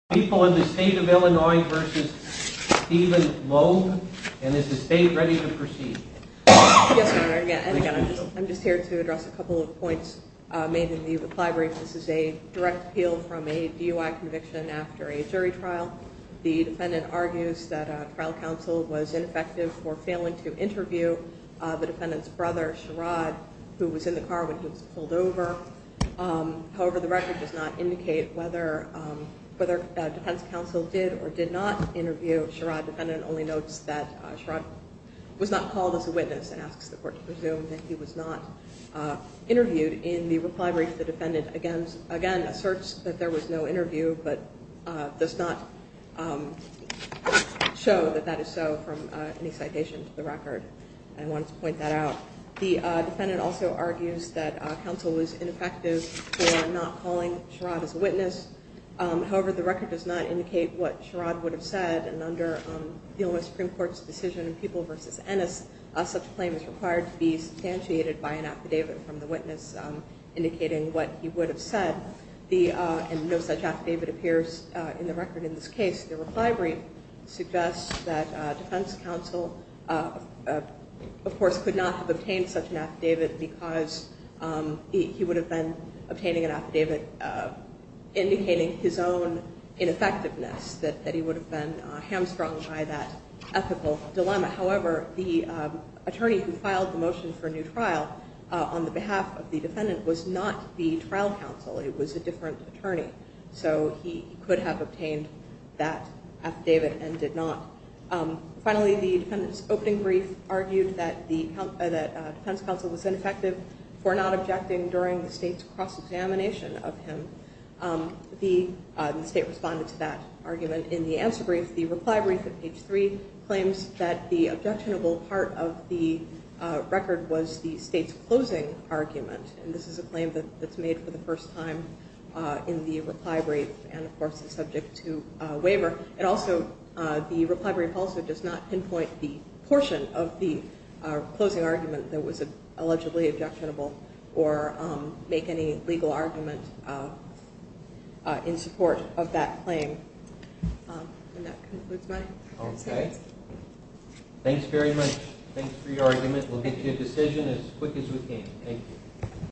I'm just here to address a couple of points made in the reply brief. This is a direct appeal from a DUI conviction after a jury trial. The defendant argues that trial counsel was ineffective for failing to interview the defendant's brother, Sherrod, who was in the car when he was pulled over. However, the record does not indicate whether defense counsel did or did not interview Sherrod. The defendant only notes that Sherrod was not called as a witness and asks the court to presume that he was not interviewed. In the reply brief, the defendant again asserts that there was no interview, but does not show that that is so from any citation to the record. I wanted to point that out. The defendant also argues that counsel was ineffective for not calling Sherrod as a witness. However, the record does not indicate what Sherrod would have said, and under the Supreme Court's decision in People v. Ennis, such a claim is required to be substantiated by an affidavit from the witness indicating what he would have said. And no such affidavit appears in the record in this case. The reply brief suggests that defense counsel, of course, could not have obtained such an affidavit because he would have been obtaining an affidavit indicating his own ineffectiveness, that he would have been hamstrung by that ethical dilemma. However, the attorney who filed the motion for a new trial on the behalf of the defendant was not the trial counsel. It was a different attorney, so he could have obtained that affidavit and did not. Finally, the defendant's opening brief argued that defense counsel was ineffective for not objecting during the state's cross-examination of him. The state responded to that argument in the answer brief. The reply brief at page 3 claims that the objectionable part of the record was the state's closing argument, and this is a claim that's made for the first time in the reply brief and, of course, is subject to waiver. And also, the reply brief also does not pinpoint the portion of the closing argument that was allegedly objectionable or make any legal argument in support of that claim. And that concludes my comments. Okay. Thanks very much. Thanks for your argument. We'll get to your decision as quick as we can. Thank you.